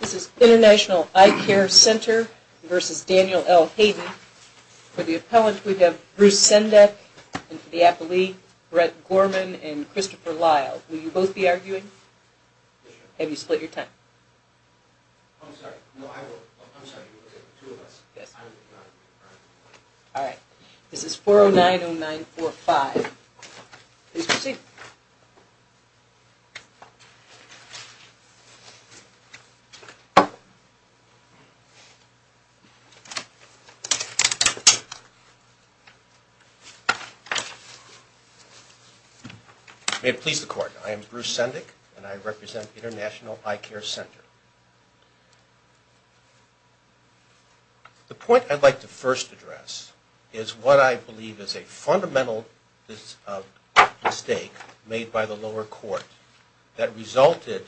This is International Eyecare Center v. Daniel L. Hayden. For the appellant, we have Bruce Sendek, and for the appellee, Brett Gorman and Christopher Lyle. Will you both be arguing? Yes, ma'am. Have you split your time? I'm sorry. No, I will. I'm sorry, you will. There are two of us. Yes. I will be arguing. All right. This is 4090945. Please proceed. May it please the Court, I am Bruce Sendek, and I represent International Eyecare Center. The point I'd like to first address is what I believe is a fundamental mistake made by the lower court that resulted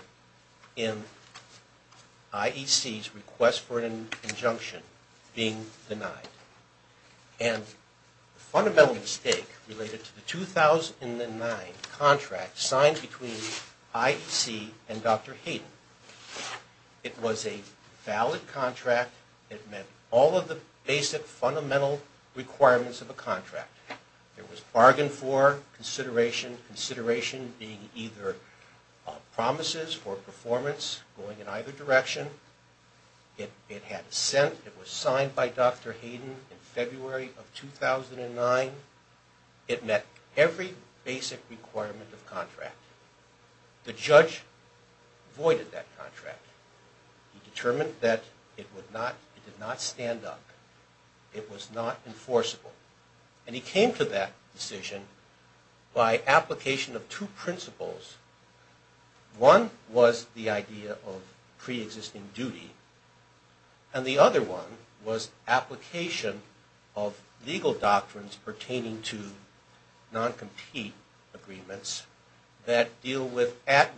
in IEC's request for an injunction being denied. And the fundamental mistake related to the 2009 contract signed between IEC and Dr. Hayden. It was a valid contract. It met all of the basic fundamental requirements of a contract. There was bargain for consideration, consideration being either promises or performance going in either direction. It had assent. It was signed by Dr. Hayden in February of 2009. It met every basic requirement of contract. The judge voided that contract. He determined that it would not, it did not by application of two principles. One was the idea of pre-existing duty, and the other one was application of legal doctrines pertaining to non-compete agreements that deal with at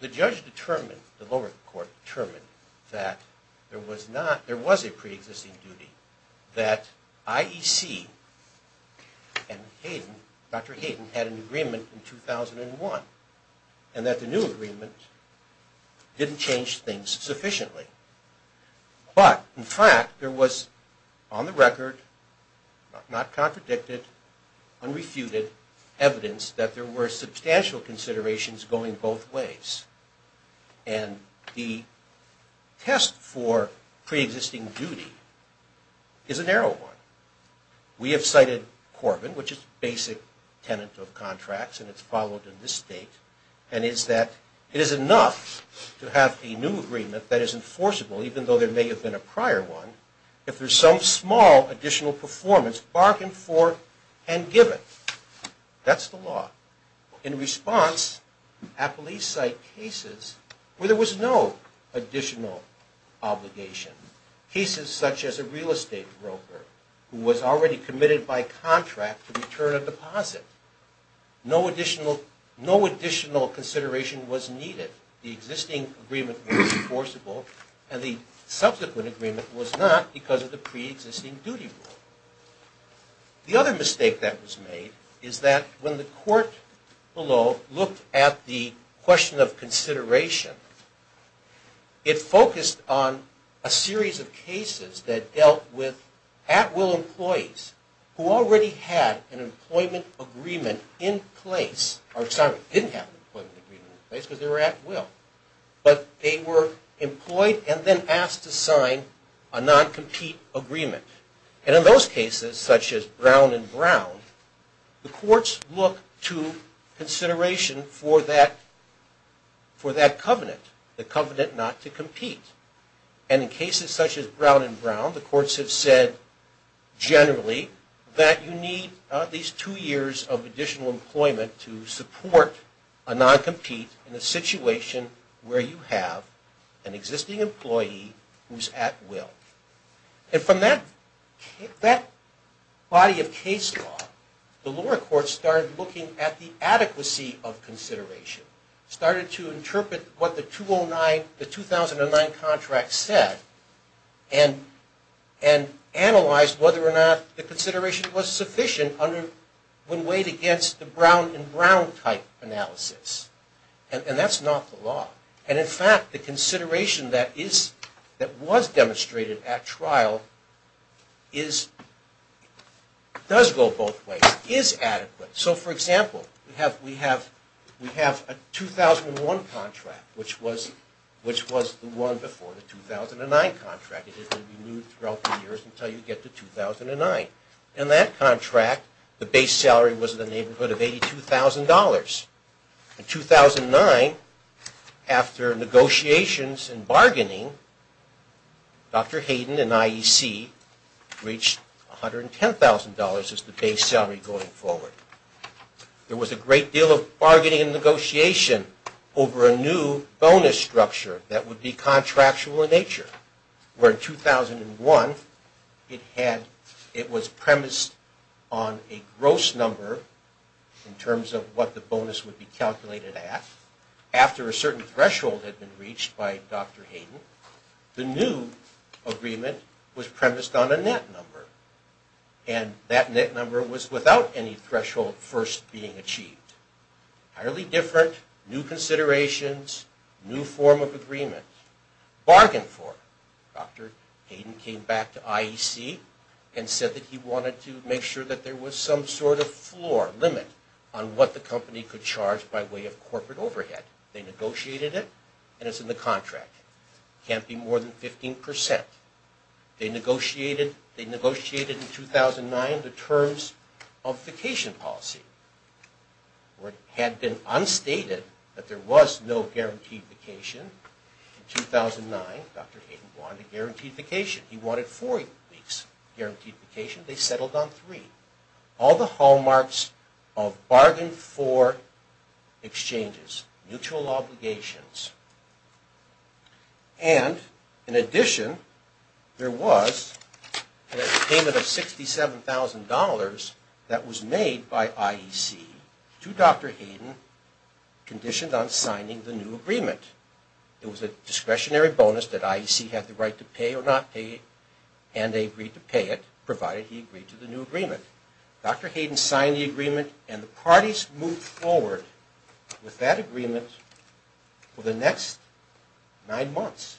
The judge determined, the lower court determined, that there was not, there was a pre-existing duty that IEC and Hayden, Dr. Hayden, had an agreement in 2001, and that the new agreement didn't change things sufficiently. But, in fact, there was on the record, not contradicted, unrefuted evidence that there were substantial considerations going both ways. And the test for pre-existing duty is a narrow one. We have cited Corbin, which is basic tenant of contracts, and it's followed in this state, and is that it is enough to have a new agreement that is enforceable, even though there may have been a prior one, if there's some small additional performance bargained for and given. That's the law. In response, Applee cite cases where there was no additional obligation. Cases such as a real estate broker who was already committed by contract to return a deposit. No additional consideration was needed. The existing agreement was enforceable, and the subsequent agreement was not because of the pre-existing duty rule. The other mistake that was made is that when the court below looked at the question of consideration, it focused on a series of cases that dealt with at-will employees who already had an employment agreement in place, or, sorry, didn't have an employment agreement in place because they were at-will. But they were employed and then And in those cases, such as Brown v. Brown, the courts look to consideration for that covenant, the covenant not to compete. And in cases such as Brown v. Brown, the courts have said generally that you need at least two years of additional employment to support a non-compete in a situation where you have an existing employee who's at-will. And from that body of case law, the lower court started looking at the adequacy of consideration, started to interpret what the 2009 contract said, and analyzed whether or not the consideration was sufficient when weighed against the Brown v. Brown type analysis. And that's not the law. And in fact, the consideration that was demonstrated at trial does go both ways, is adequate. So, for example, we have a 2001 contract, which was the one before the 2009 contract. It is going to be renewed throughout the years until you get to 2009. In that contract, the base salary was in the neighborhood of $82,000. In 2009, after negotiations and bargaining, Dr. Hayden and IEC reached $110,000 as the base salary going forward. There was a great deal of bargaining and negotiation over a new bonus structure that would be In 2001, it was premised on a gross number in terms of what the bonus would be calculated at. After a certain threshold had been reached by Dr. Hayden, the new agreement was premised on a net number. And that net number was without any threshold first being achieved. Entirely different, new considerations, new form of agreement. Bargained for. Dr. Hayden came back to IEC and said that he wanted to make sure that there was some sort of floor, limit, on what the company could charge by way of corporate overhead. They negotiated it, and it's in the contract. Can't be more than 15%. They negotiated in 2009 the terms of vacation policy. It had been unstated that there was no guaranteed vacation. In 2009, Dr. Hayden wanted a guaranteed vacation. He wanted four weeks guaranteed vacation. They settled on three. All the hallmarks of bargain for exchanges. Mutual obligations. And, in addition, there was a payment of $67,000 that was made by IEC to Dr. Hayden, conditioned on signing the new agreement. It was a discretionary bonus that IEC had the right to pay or not pay, and they agreed to pay it, provided he agreed to the new agreement. Dr. Hayden signed the agreement, and the parties moved forward with that agreement for the next nine months.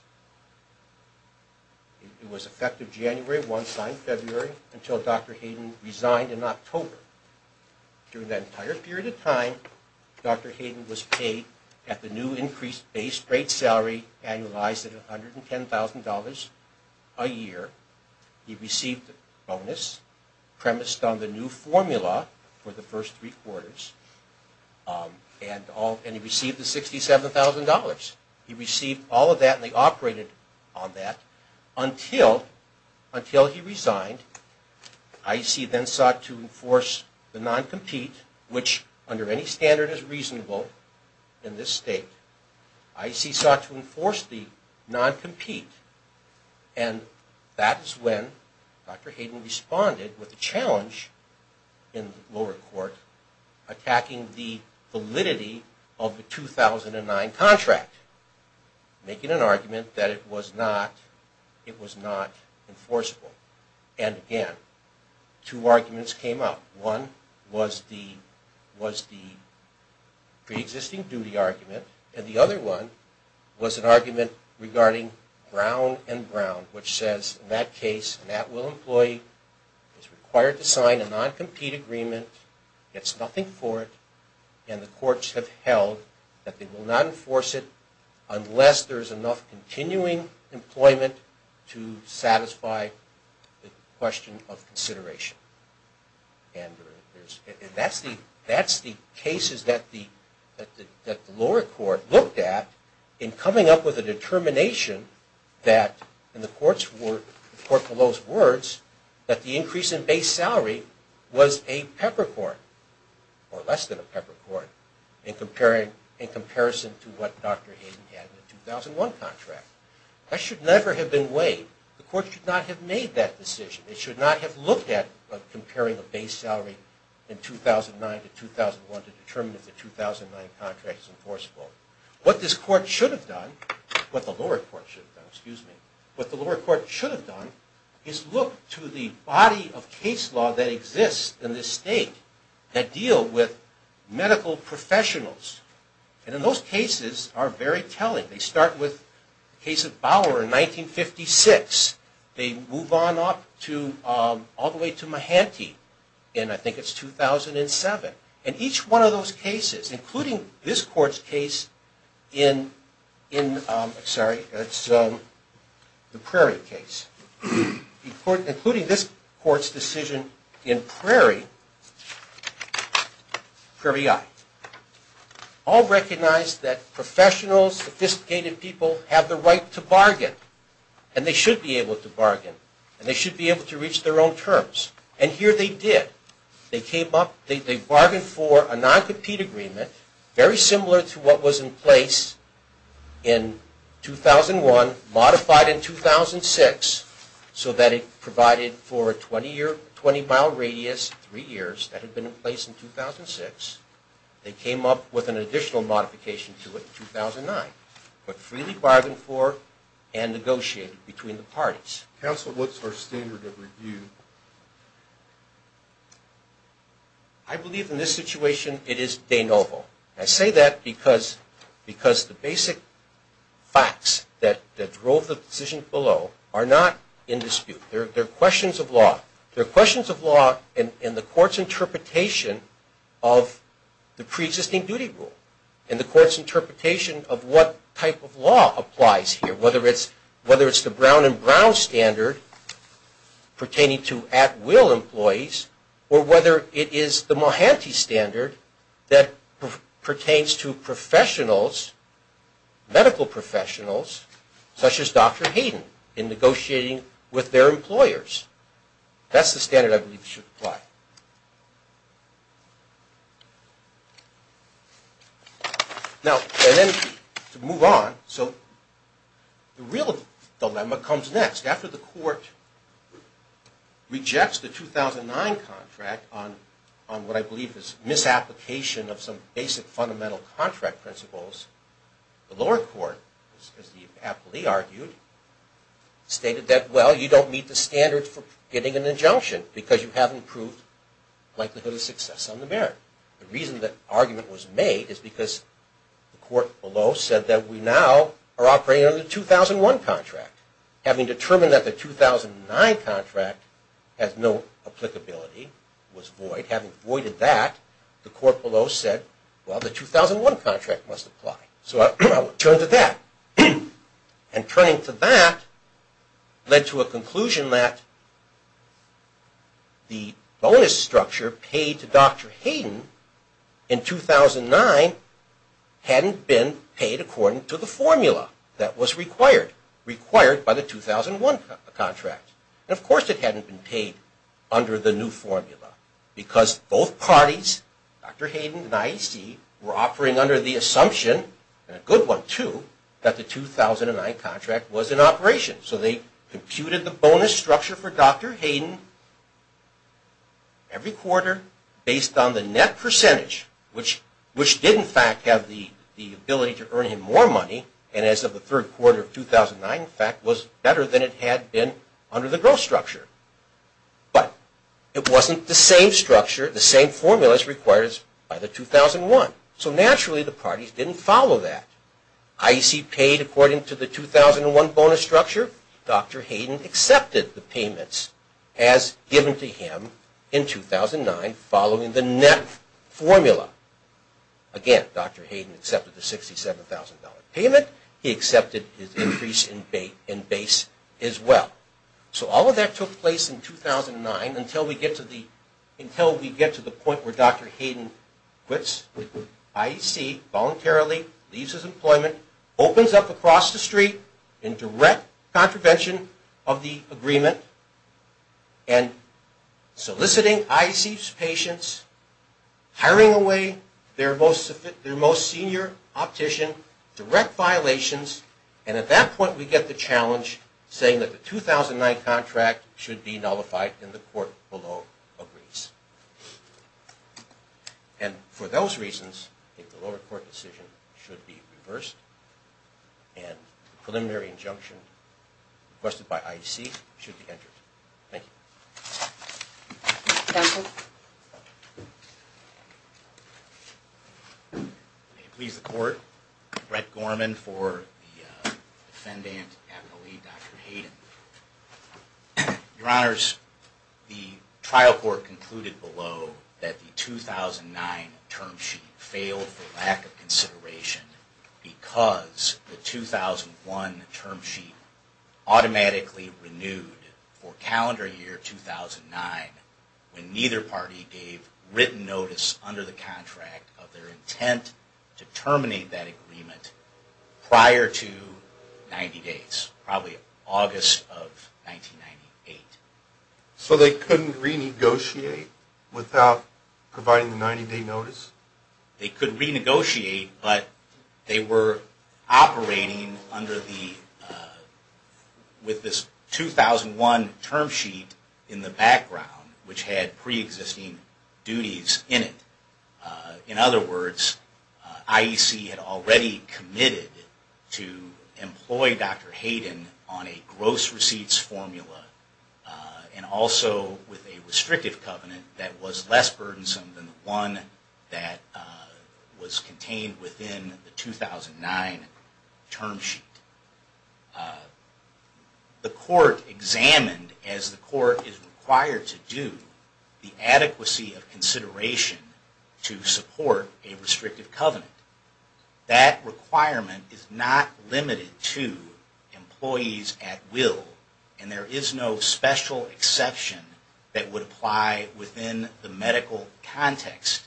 It was effective January 1, signed February, until Dr. Hayden resigned in October. During that entire period of time, Dr. Hayden was paid at the new increased base rate salary, annualized at $110,000 a year. He received a bonus premised on the new formula for the first three quarters, and he received the $67,000. He received all of that, and they operated on that until he resigned. IEC then sought to enforce the non-compete, which under any standard is reasonable in this state. IEC sought to enforce the non-compete, and that is when Dr. Hayden responded with a challenge in the lower court, attacking the validity of the 2009 contract, making an argument that it was not enforceable. Again, two arguments came up. One was the pre-existing duty argument, and the other one was an argument regarding Brown v. Brown, which says in that case, an at-will employee is required to sign a non-compete agreement, gets nothing for it, and the courts have held that they will not enforce it unless there is enough continuing employment to satisfy the question of consideration. That's the cases that the lower court looked at in coming up with a determination that, in the court below's words, that the increase in base salary was a peppercorn, or less than a peppercorn, in comparison to what Dr. Hayden had in the 2001 contract. That should never have been weighed. The court should not have made that decision. It should not have looked at comparing a base salary in 2009 to 2001 to determine if the 2009 contract is enforceable. What this court should have done, what the lower court should have done, excuse me, what the lower court should have done is look to the body of case law that exists in this state that deal with medical professionals. And in those cases are very telling. They start with the case of Bauer in 1956. They move on up to, all the way to Mahanty in, I think it's 2007. And each one of those cases, including this court's case in, sorry, the Prairie case, including this court's decision in Prairie, Prairie I, all recognize that professionals, sophisticated people, have the right to bargain. And they should be able to bargain. And they should be able to reach their own terms. And here they did. They came up, they bargained for a non-compete agreement, very similar to what was in place in 2001, modified in 2006, so that it provided for a 20-mile radius, three years, that had been in place in 2006. They came up with an additional modification to it in 2009. But freely bargained for and negotiated between the parties. Counsel, what's our standard of review? I believe in this situation it is de novo. I say that because the basic facts that drove the decision below are not in dispute. They're questions of law. They're questions of law in the court's interpretation of the preexisting duty rule, and the court's interpretation of what type of law applies here, whether it's the Brown and Brown standard pertaining to at-will employees, or whether it is the Mohanty standard that pertains to professionals, medical professionals, such as Dr. Hayden, in negotiating with their employers. That's the standard I believe should apply. Now, to move on, so the real dilemma comes next. After the court rejects the 2009 contract on what I believe is misapplication of some basic fundamental contract principles, the lower court, as the appellee argued, stated that, well, you don't meet the standards for getting an injunction because you haven't proved likelihood of success on the merit. The reason that argument was made is because the court below said that we now are operating under the 2001 contract. Having determined that the 2009 contract has no applicability, was void, having voided that, the court below said, well, the 2001 contract must apply. So I will turn to that. And turning to that led to a conclusion that the bonus structure paid to Dr. Hayden in 2009 hadn't been paid according to the formula that was required, required by the 2001 contract. Of course it hadn't been paid under the new formula because both parties, Dr. Hayden and IEC, were offering under the assumption, and a good one too, that the 2009 contract was in operation. So they computed the bonus structure for Dr. Hayden every quarter based on the net percentage, which did in fact have the ability to earn him more money, and as of the third quarter of 2009 in fact was better than it had been under the growth structure. But it wasn't the same structure, the same formulas required by the 2001. So naturally the parties didn't follow that. IEC paid according to the 2001 bonus structure. Dr. Hayden accepted the payments as given to him in 2009 following the net formula. Again, Dr. Hayden accepted the $67,000 payment. He accepted his increase in base as well. So all of that took place in 2009 until we get to the point where Dr. Hayden quits IEC voluntarily, leaves his employment, opens up across the street in direct contravention of the agreement, and soliciting IEC's patience, hiring away their most senior optician, direct violations, and at that point we get the challenge saying that the 2009 contract should be nullified and the court below agrees. And for those reasons, the lower court decision should be reversed, and the preliminary injunction requested by IEC should be entered. Thank you. Counsel? May it please the court. Brett Gorman for the defendant and the lead, Dr. Hayden. Your Honors, the trial court concluded below that the 2009 term sheet failed for lack of consideration because the 2001 term sheet automatically renewed for calendar year 2009 when neither party gave written notice under the contract of their intent to terminate that agreement prior to 90 days, probably August of 1998. So they couldn't renegotiate without providing the 90-day notice? They could renegotiate, but they were operating with this 2001 term sheet in the background, which had pre-existing duties in it. In other words, IEC had already committed to employ Dr. Hayden on a gross receipts formula and also with a restrictive covenant that was less burdensome than the one that was contained within the 2009 term sheet. The court examined, as the court is required to do, the adequacy of consideration to support a restrictive covenant. That requirement is not limited to employees at will, and there is no special exception that would apply within the medical context.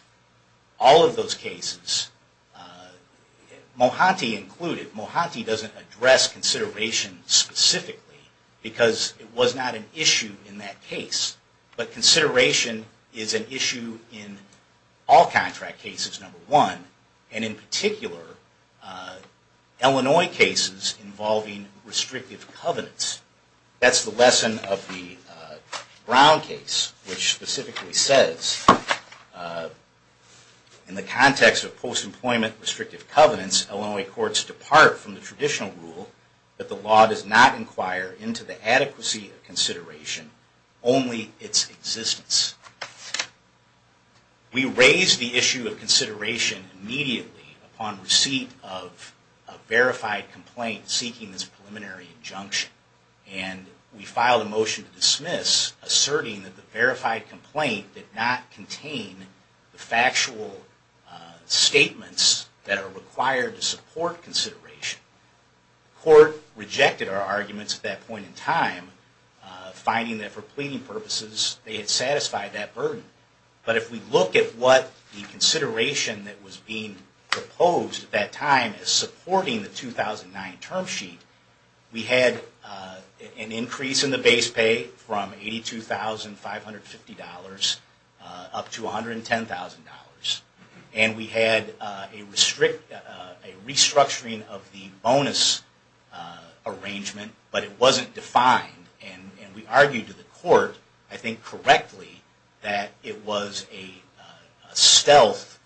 All of those cases, Mohanty included, Mohanty doesn't address consideration specifically because it was not an issue in that case. But consideration is an issue in all contract cases, number one, and in particular, Illinois cases involving restrictive covenants. That's the lesson of the Brown case, which specifically says, in the context of post-employment restrictive covenants, Illinois courts depart from the traditional rule that the law does not inquire into the adequacy of consideration, only its existence. We raised the issue of consideration immediately upon receipt of a verified complaint seeking this preliminary injunction, and we filed a motion to dismiss, asserting that the verified complaint did not contain the factual statements that are required to support consideration. The court rejected our arguments at that point in time, finding that for pleading purposes, they had satisfied that burden. But if we look at what the consideration that was being proposed at that time is supporting the 2009 term sheet, we had an increase in the base pay from $82,550 up to $110,000. And we had a restructuring of the bonus arrangement, but it wasn't defined. And we argued to the court, I think correctly, that it was a stealth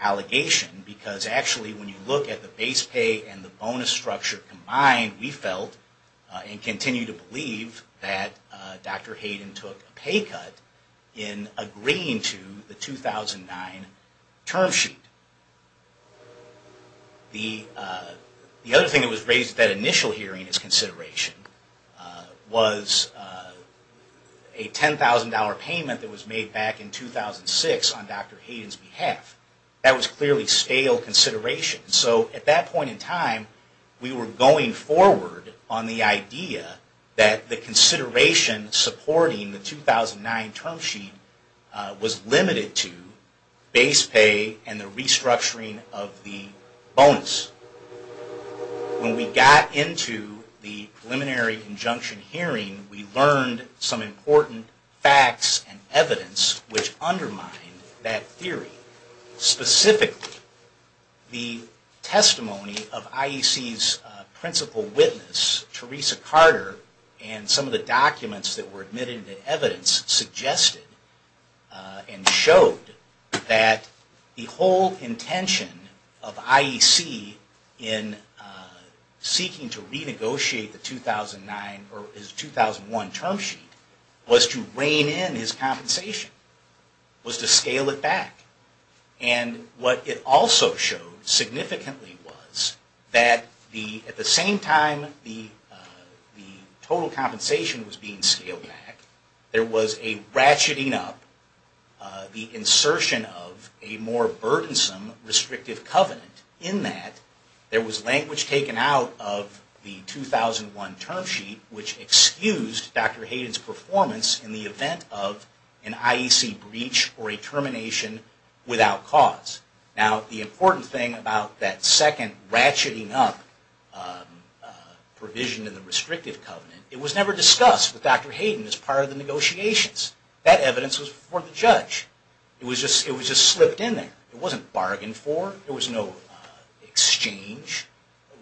allegation. Because actually, when you look at the base pay and the bonus structure combined, we felt and continue to believe that Dr. Hayden took a pay cut in agreeing to the 2009 term sheet. The other thing that was raised at that initial hearing as consideration was a $10,000 payment that was made back in 2006 on Dr. Hayden's behalf. That was clearly stale consideration. So at that point in time, we were going forward on the idea that the consideration supporting the 2009 term sheet was limited to base pay and the restructuring of the bonus. When we got into the preliminary injunction hearing, we learned some important facts and evidence which undermined that theory. Specifically, the testimony of IEC's principal witness, Teresa Carter, and some of the documents that were admitted in evidence suggested and showed that the whole intention of IEC in seeking to renegotiate the 2009 or its 2001 term sheet was to rein in his compensation, was to scale it back. What it also showed significantly was that at the same time the total compensation was being scaled back, there was a ratcheting up, the insertion of a more burdensome restrictive covenant in that There was language taken out of the 2001 term sheet which excused Dr. Hayden's performance in the event of an IEC breach or a termination without cause. Now the important thing about that second ratcheting up provision in the restrictive covenant, it was never discussed with Dr. Hayden as part of the negotiations. That evidence was before the judge. It was just slipped in there. It wasn't bargained for. There was no exchange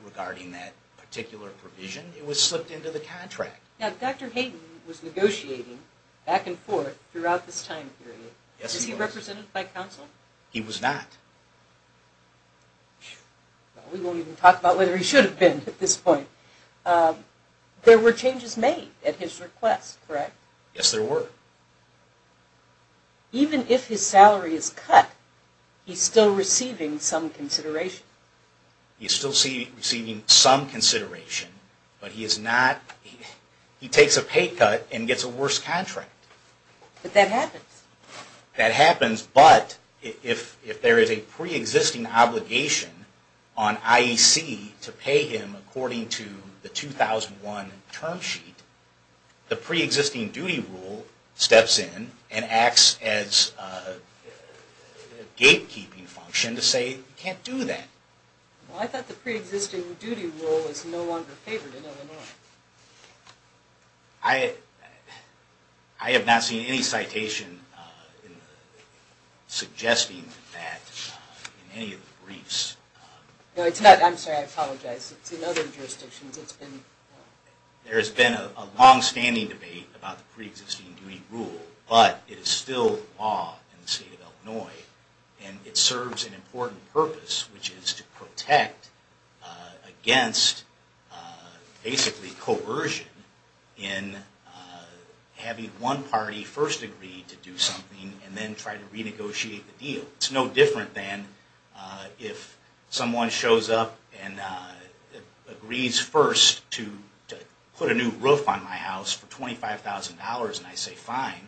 regarding that particular provision. It was slipped into the contract. Now Dr. Hayden was negotiating back and forth throughout this time period. Yes, he was. Was he represented by counsel? He was not. We won't even talk about whether he should have been at this point. There were changes made at his request, correct? Yes, there were. Even if his salary is cut, he's still receiving some consideration. He's still receiving some consideration, but he takes a pay cut and gets a worse contract. But that happens. That happens, but if there is a pre-existing obligation on IEC to pay him according to the 2001 term sheet, the pre-existing duty rule steps in and acts as a gatekeeping function to say you can't do that. Well, I thought the pre-existing duty rule was no longer favored in Illinois. I have not seen any citation suggesting that in any of the briefs. No, it's not. I'm sorry. I apologize. It's in other jurisdictions. There has been a long-standing debate about the pre-existing duty rule, but it is still law in the state of Illinois. And it serves an important purpose, which is to protect against basically coercion in having one party first agree to do something and then try to renegotiate the deal. It's no different than if someone shows up and agrees first to put a new roof on my house for $25,000 and I say fine.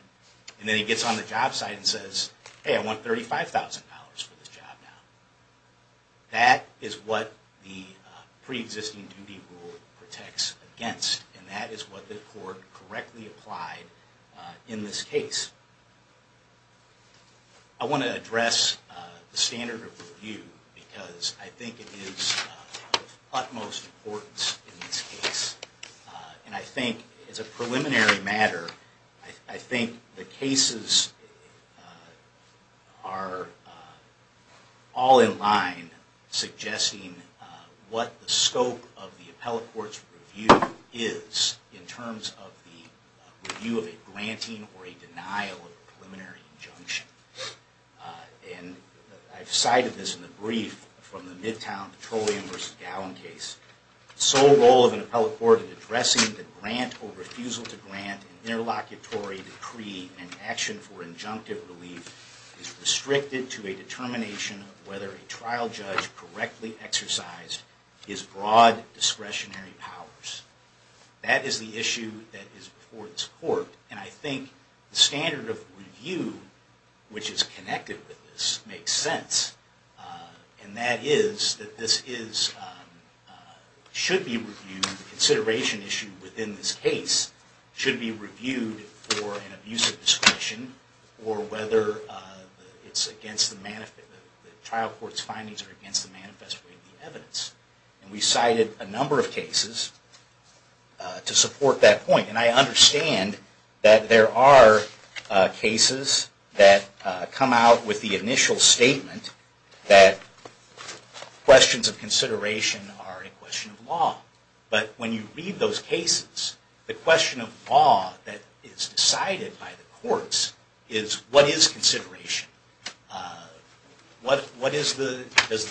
And then he gets on the job site and says, hey, I want $35,000 for this job now. That is what the pre-existing duty rule protects against, and that is what the court correctly applied in this case. I want to address the standard of review because I think it is of utmost importance in this case. And I think as a preliminary matter, I think the cases are all in line suggesting what the scope of the appellate court's review is in terms of the review of a granting or a denial of a preliminary injunction. And I've cited this in the brief from the Midtown Petroleum v. Gallen case. The sole role of an appellate court in addressing the grant or refusal to grant interlocutory decree and action for injunctive relief is restricted to a determination of whether a trial judge correctly exercised his broad discretionary powers. That is the issue that is before this court, and I think the standard of review, which is connected with this, makes sense. And that is that this should be reviewed, the consideration issue within this case should be reviewed for an abusive discretion or whether the trial court's findings are against the manifest way of the evidence. And we cited a number of cases to support that point. And I understand that there are cases that come out with the initial statement that questions of consideration are a question of law. But when you read those cases, the question of law that is decided by the courts is what is consideration? Does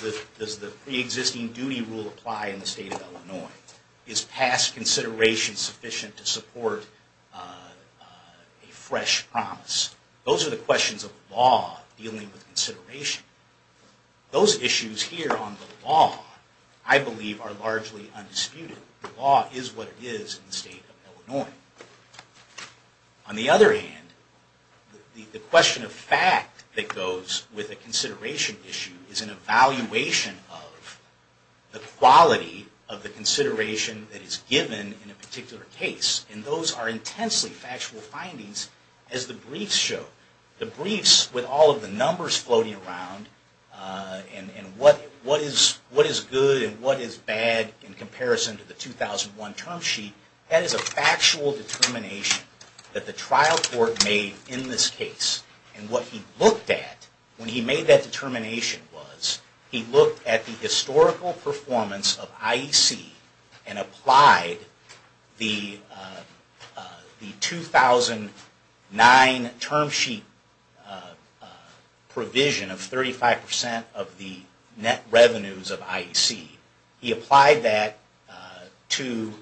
the pre-existing duty rule apply in the state of Illinois? Is past consideration sufficient to support a fresh promise? Those are the questions of law dealing with consideration. Those issues here on the law, I believe, are largely undisputed. The law is what it is in the state of Illinois. On the other hand, the question of fact that goes with a consideration issue is an evaluation of the quality of the consideration that is given in a particular case. And those are intensely factual findings, as the briefs show. The briefs with all of the numbers floating around and what is good and what is bad in comparison to the 2001 term sheet, that is a factual determination that the trial court made in this case. And what he looked at when he made that determination was he looked at the historical performance of IEC and applied the 2009 term sheet provision of 35% of the net revenues of IEC. He applied that to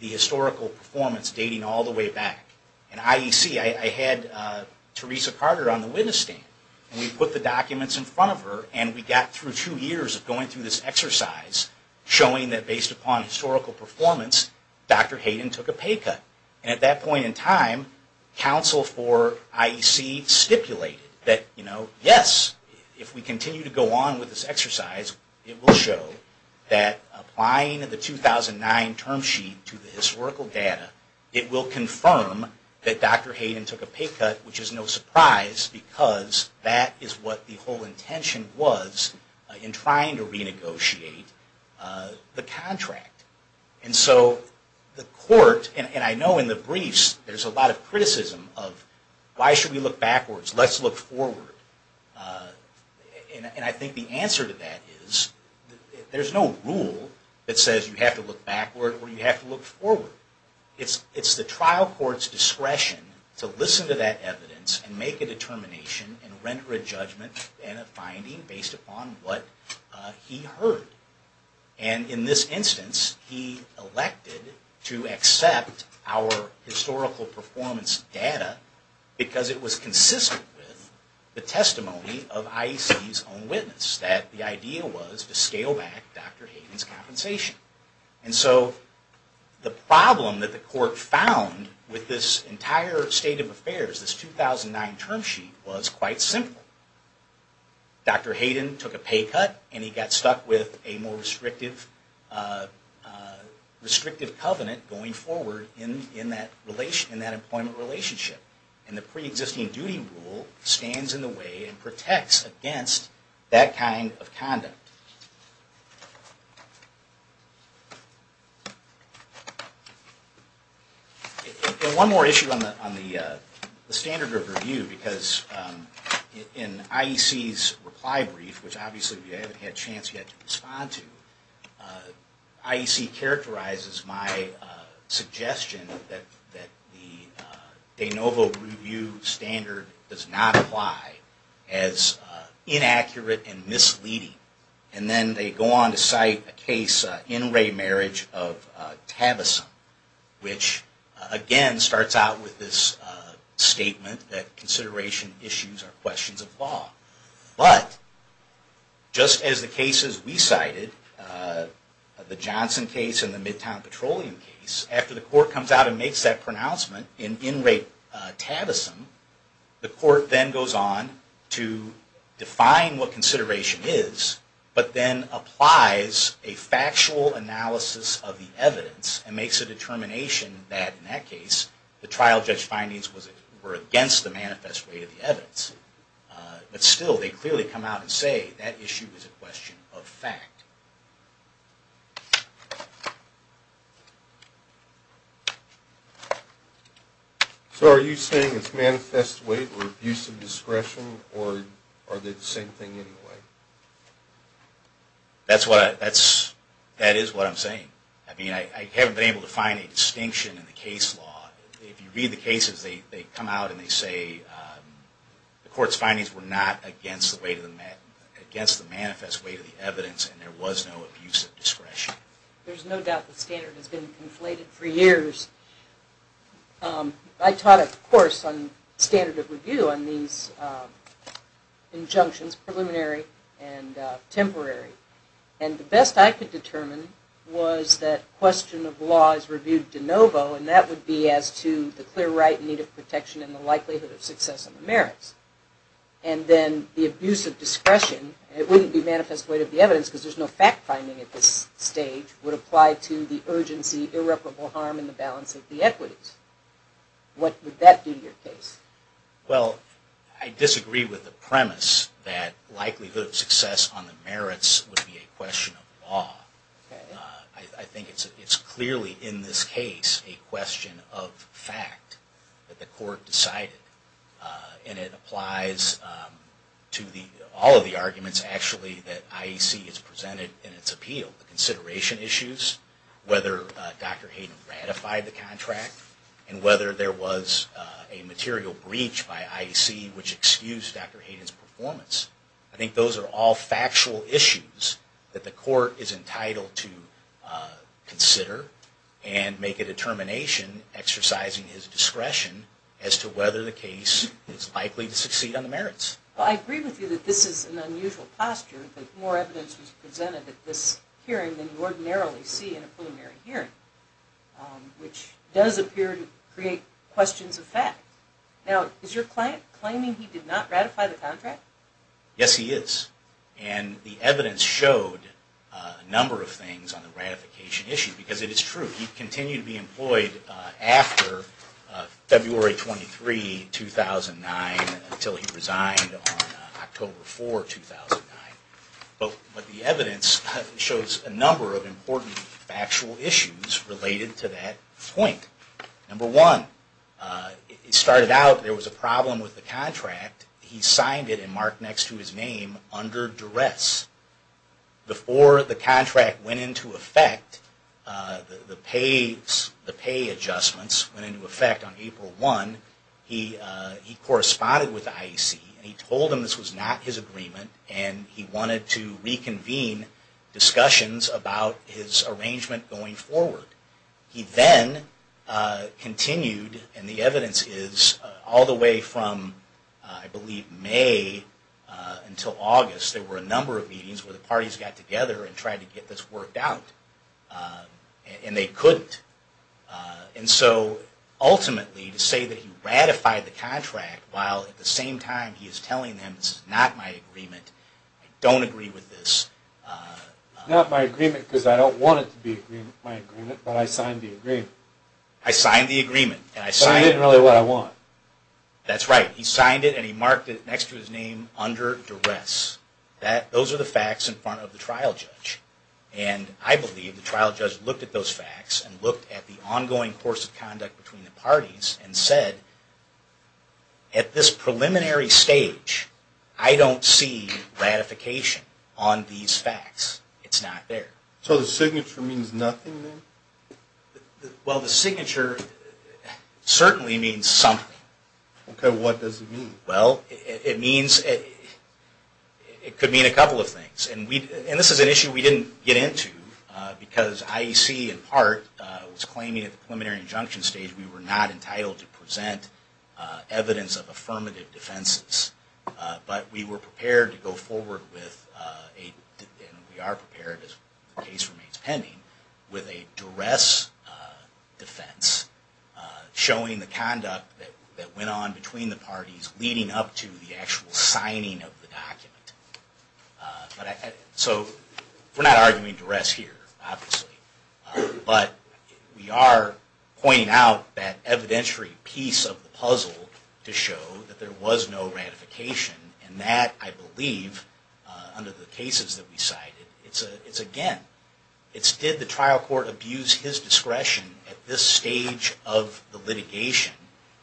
the historical performance dating all the way back. In IEC, I had Theresa Carter on the witness stand. We put the documents in front of her and we got through two years of going through this exercise showing that based upon historical performance, Dr. Hayden took a pay cut. And at that point in time, counsel for IEC stipulated that yes, if we continue to go on with this exercise, it will show that applying the 2009 term sheet to the historical data, it will confirm that Dr. Hayden took a pay cut, which is no surprise because that is what the whole intention was in trying to renegotiate the contract. And so the court, and I know in the briefs there's a lot of criticism of why should we look backwards, let's look forward. And I think the answer to that is there's no rule that says you have to look backward or you have to look forward. It's the trial court's discretion to listen to that evidence and make a determination and render a judgment and a finding based upon what he heard. And in this instance, he elected to accept our historical performance data because it was consistent with the testimony of IEC's own witness, that the idea was to scale back Dr. Hayden's compensation. And so the problem that the court found with this entire state of affairs, this 2009 term sheet, was quite simple. Dr. Hayden took a pay cut and he got stuck with a more restrictive covenant going forward in that employment relationship. And the pre-existing duty rule stands in the way and protects against that kind of conduct. And one more issue on the standard of review, because in IEC's reply brief, which obviously we haven't had a chance yet to respond to, IEC characterizes my suggestion that the de novo review standard does not apply as inaccurate and misleading. And then they go on to cite a case, an in-rate marriage of Tavison, which again starts out with this statement that consideration issues are questions of law. But just as the cases we cited, the Johnson case and the Midtown Petroleum case, after the court comes out and makes that pronouncement in in-rate Tavison, the court then goes on to define what consideration is, but then applies a factual analysis of the evidence and makes a determination that, in that case, the trial judge findings were against the manifest rate of the evidence. But still, they clearly come out and say that issue is a question of fact. So are you saying it's manifest weight or abuse of discretion, or are they the same thing anyway? That is what I'm saying. I mean, I haven't been able to find a distinction in the case law. If you read the cases, they come out and they say the court's findings were not against the manifest weight of the evidence, and there was no discretion. There's no doubt the standard has been conflated for years. I taught a course on standard of review on these injunctions, preliminary and temporary. And the best I could determine was that question of law is reviewed de novo, and that would be as to the clear right in need of protection and the likelihood of success in the merits. And then the abuse of discretion, it wouldn't be manifest weight of the evidence because there's no fact finding at this stage, would apply to the urgency, irreparable harm in the balance of the equities. What would that be in your case? Well, I disagree with the premise that likelihood of success on the merits would be a question of law. I think it's clearly in this case a question of fact that the court decided. And it applies to all of the arguments actually that IEC has presented in its appeal. The consideration issues, whether Dr. Hayden ratified the contract, and whether there was a material breach by IEC which excused Dr. Hayden's performance. I think those are all factual issues that the court is entitled to consider and make a determination exercising his discretion as to whether the case is likely to succeed on the merits. Well, I agree with you that this is an unusual posture, that more evidence was presented at this hearing than you ordinarily see in a preliminary hearing, which does appear to create questions of fact. Now, is your client claiming he did not ratify the contract? Yes, he is. And the evidence showed a number of things on the ratification issue because it is true. He continued to be employed after February 23, 2009 until he resigned on October 4, 2009. But the evidence shows a number of important factual issues related to that point. Number one, it started out there was a problem with the contract. He signed it and marked next to his name under duress. Before the contract went into effect, the pay adjustments went into effect on April 1. He corresponded with IEC and he told them this was not his agreement and he wanted to reconvene discussions about his arrangement going forward. He then continued, and the evidence is all the way from I believe May until August, there were a number of meetings where the parties got together and tried to get this worked out. And they couldn't. And so ultimately to say that he ratified the contract while at the same time he is telling them this is not my agreement, I don't agree with this. It's not my agreement because I don't want it to be my agreement, but I signed the agreement. I signed the agreement. But it isn't really what I want. That's right. He signed it and he marked it next to his name under duress. Those are the facts in front of the trial judge. And I believe the trial judge looked at those facts and looked at the ongoing course of conduct between the parties and said, at this preliminary stage, I don't see ratification on these facts. It's not there. So the signature means nothing then? Well, the signature certainly means something. Okay, what does it mean? Well, it means, it could mean a couple of things. And this is an issue we didn't get into because IEC in part was claiming at the preliminary injunction stage we were not entitled to present evidence of affirmative defenses. But we were prepared to go forward with, and we are prepared as the case remains pending, with a duress defense showing the conduct that went on between the parties leading up to the actual signing of the document. So we're not arguing duress here, obviously. But we are pointing out that evidentiary piece of the puzzle to show that there was no ratification. And that, I believe, under the cases that we cited, it's again, did the trial court abuse his discretion at this stage of the litigation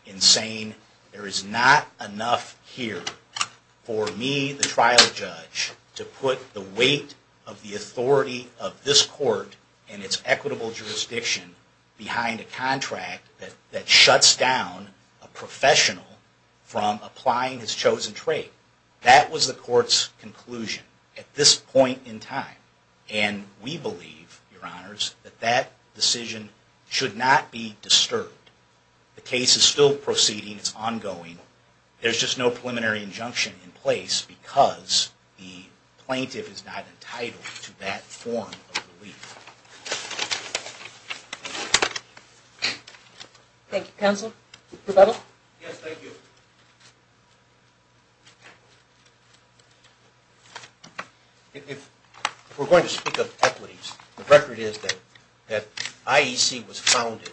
in saying there is not enough here. For me, the trial judge, to put the weight of the authority of this court and its equitable jurisdiction behind a contract that shuts down a professional from applying his chosen trait. That was the court's conclusion at this point in time. And we believe, your honors, that that decision should not be disturbed. The case is still proceeding. It's ongoing. There's just no preliminary injunction in place because the plaintiff is not entitled to that form of relief. Thank you, counsel. Rebuttal? Yes, thank you. If we're going to speak of equities, the record is that IEC was founded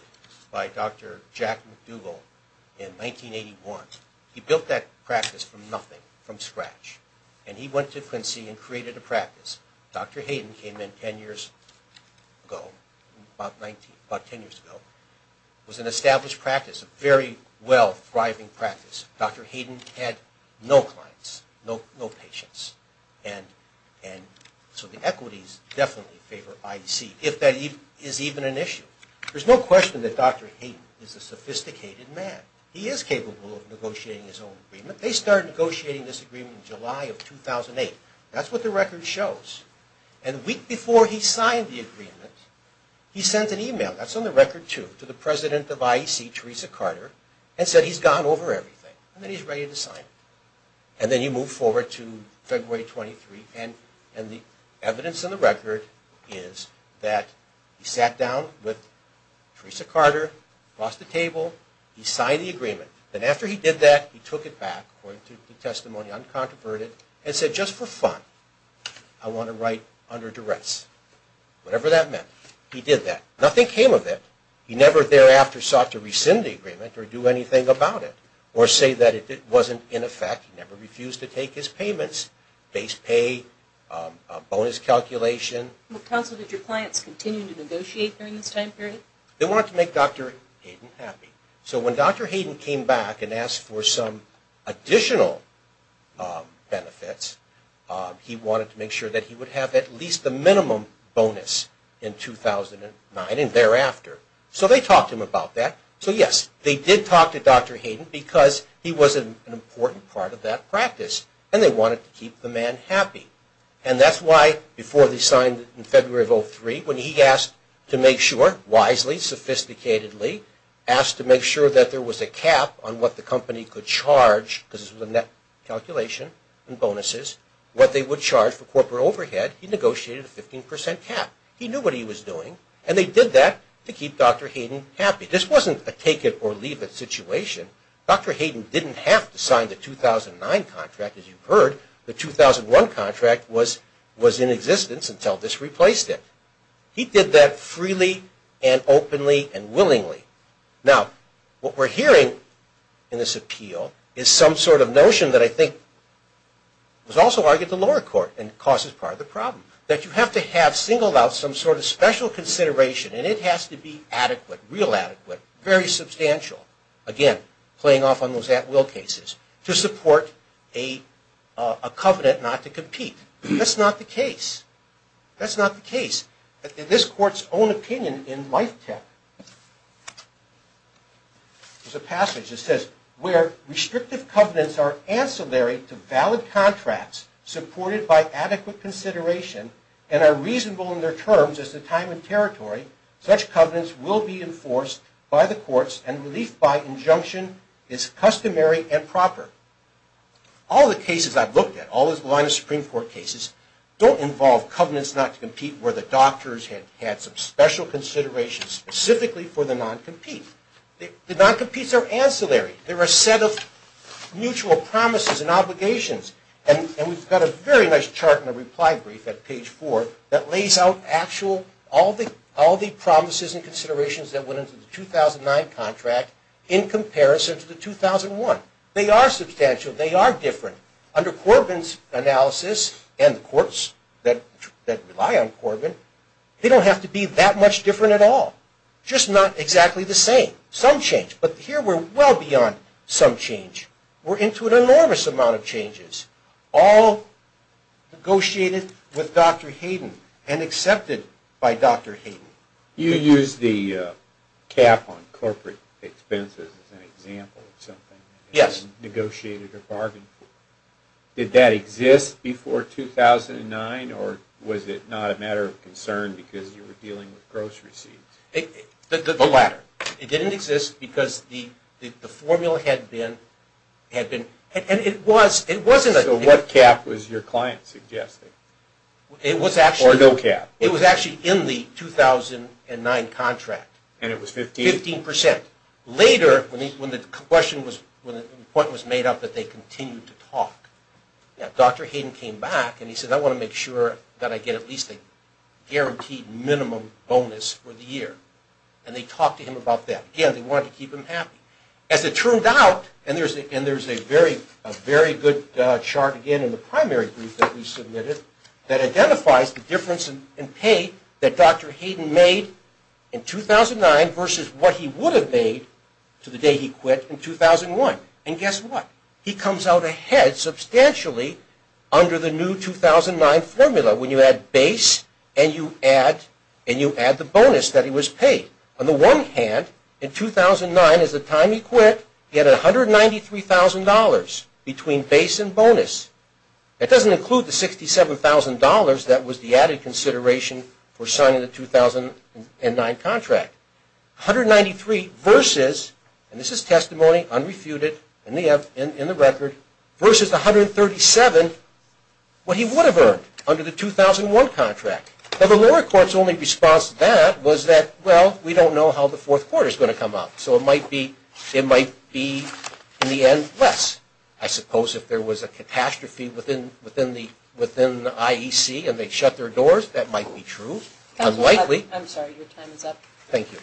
by Dr. Jack McDougall in 1981. He built that practice from nothing, from scratch. And he went to Quincy and created a practice. Dr. Hayden came in 10 years ago, about 10 years ago. It was an established practice, a very well-thriving practice. Dr. Hayden had no clients, no patients. And so the equities definitely favor IEC, if that is even an issue. There's no question that Dr. Hayden is a sophisticated man. He is capable of negotiating his own agreement. They started negotiating this agreement in July of 2008. That's what the record shows. And the week before he signed the agreement, he sent an email, that's on the record too, to the president of IEC, Teresa Carter, and said he's gone over everything and that he's ready to sign it. And then he moved forward to February 23. And the evidence in the record is that he sat down with Teresa Carter, crossed the table, he signed the agreement. Then after he did that, he took it back, according to the testimony, uncontroverted, and said, just for fun, I want to write under duress. Whatever that meant, he did that. Nothing came of it. He never thereafter sought to rescind the agreement or do anything about it, or say that it wasn't in effect. He never refused to take his payments, base pay, bonus calculation. Counsel, did your clients continue to negotiate during this time period? They wanted to make Dr. Hayden happy. So when Dr. Hayden came back and asked for some additional benefits, he wanted to make sure that he would have at least the minimum bonus in 2009 and thereafter. So they talked to him about that. So yes, they did talk to Dr. Hayden because he was an important part of that practice, and they wanted to keep the man happy. And that's why, before he signed in February of 2003, when he asked to make sure, wisely, sophisticatedly, asked to make sure that there was a cap on what the company could charge, because it was a net calculation and bonuses, what they would charge for corporate overhead, he negotiated a 15% cap. He knew what he was doing, and they did that to keep Dr. Hayden happy. This wasn't a take it or leave it situation. Dr. Hayden didn't have to sign the 2009 contract, as you've heard. The 2001 contract was in existence until this replaced it. He did that freely and openly and willingly. Now, what we're hearing in this appeal is some sort of notion that I think was also argued to lower court and causes part of the problem, that you have to have singled out some sort of special consideration, and it has to be adequate, real adequate, very substantial, again, playing off on those at-will cases, to support a covenant not to compete. That's not the case. That's not the case. In this court's own opinion in Life Tech, there's a passage that says, where restrictive covenants are ancillary to valid contracts supported by adequate consideration and are reasonable in their terms as to time and territory, such covenants will be enforced by the courts, and relief by injunction is customary and proper. All the cases I've looked at, all the line of Supreme Court cases, don't involve covenants not to compete where the doctors had had some special consideration specifically for the non-compete. The non-competes are ancillary. They're a set of mutual promises and obligations, and we've got a very nice chart in the reply brief at page four that lays out actual, all the promises and considerations that went into the 2009 contract in comparison to the 2001. They are substantial. They are different. Under Corbin's analysis and the courts that rely on Corbin, they don't have to be that much different at all, just not exactly the same. Some change, but here we're well beyond some change. We're into an enormous amount of changes, all negotiated with Dr. Hayden and accepted by Dr. Hayden. You used the cap on corporate expenses as an example of something that you negotiated a bargain for. Did that exist before 2009, or was it not a matter of concern because you were dealing with grocery seeds? The latter. It didn't exist because the formula had been, and it was. So what cap was your client suggesting? It was actually. Or no cap. It was a 2009 contract. And it was 15? Fifteen percent. Later, when the question was, when the point was made up that they continued to talk, Dr. Hayden came back and he said, I want to make sure that I get at least a guaranteed minimum bonus for the year. And they talked to him about that. Again, they wanted to keep him happy. As it turned out, and there's a very good chart again in the primary brief that we submitted that identifies the difference in pay that Dr. Hayden made in 2009 versus what he would have made to the day he quit in 2001. And guess what? He comes out ahead substantially under the new 2009 formula when you add base and you add the bonus that he was paid. On the one hand, in 2009 is the time he quit. He had $193,000 between base and bonus. That doesn't include the $67,000 that was the added consideration for signing the 2009 contract. $193,000 versus, and this is testimony unrefuted in the record, versus $137,000 what he would have earned under the 2001 contract. Now, the lower court's only response to that was that, well, we don't know how the fourth quarter is going to come out. So it might be, in the end, less. I suppose if there was a catastrophe within the IEC and they shut their doors, that might be true. Unlikely. I'm sorry, your time is up. Thank you.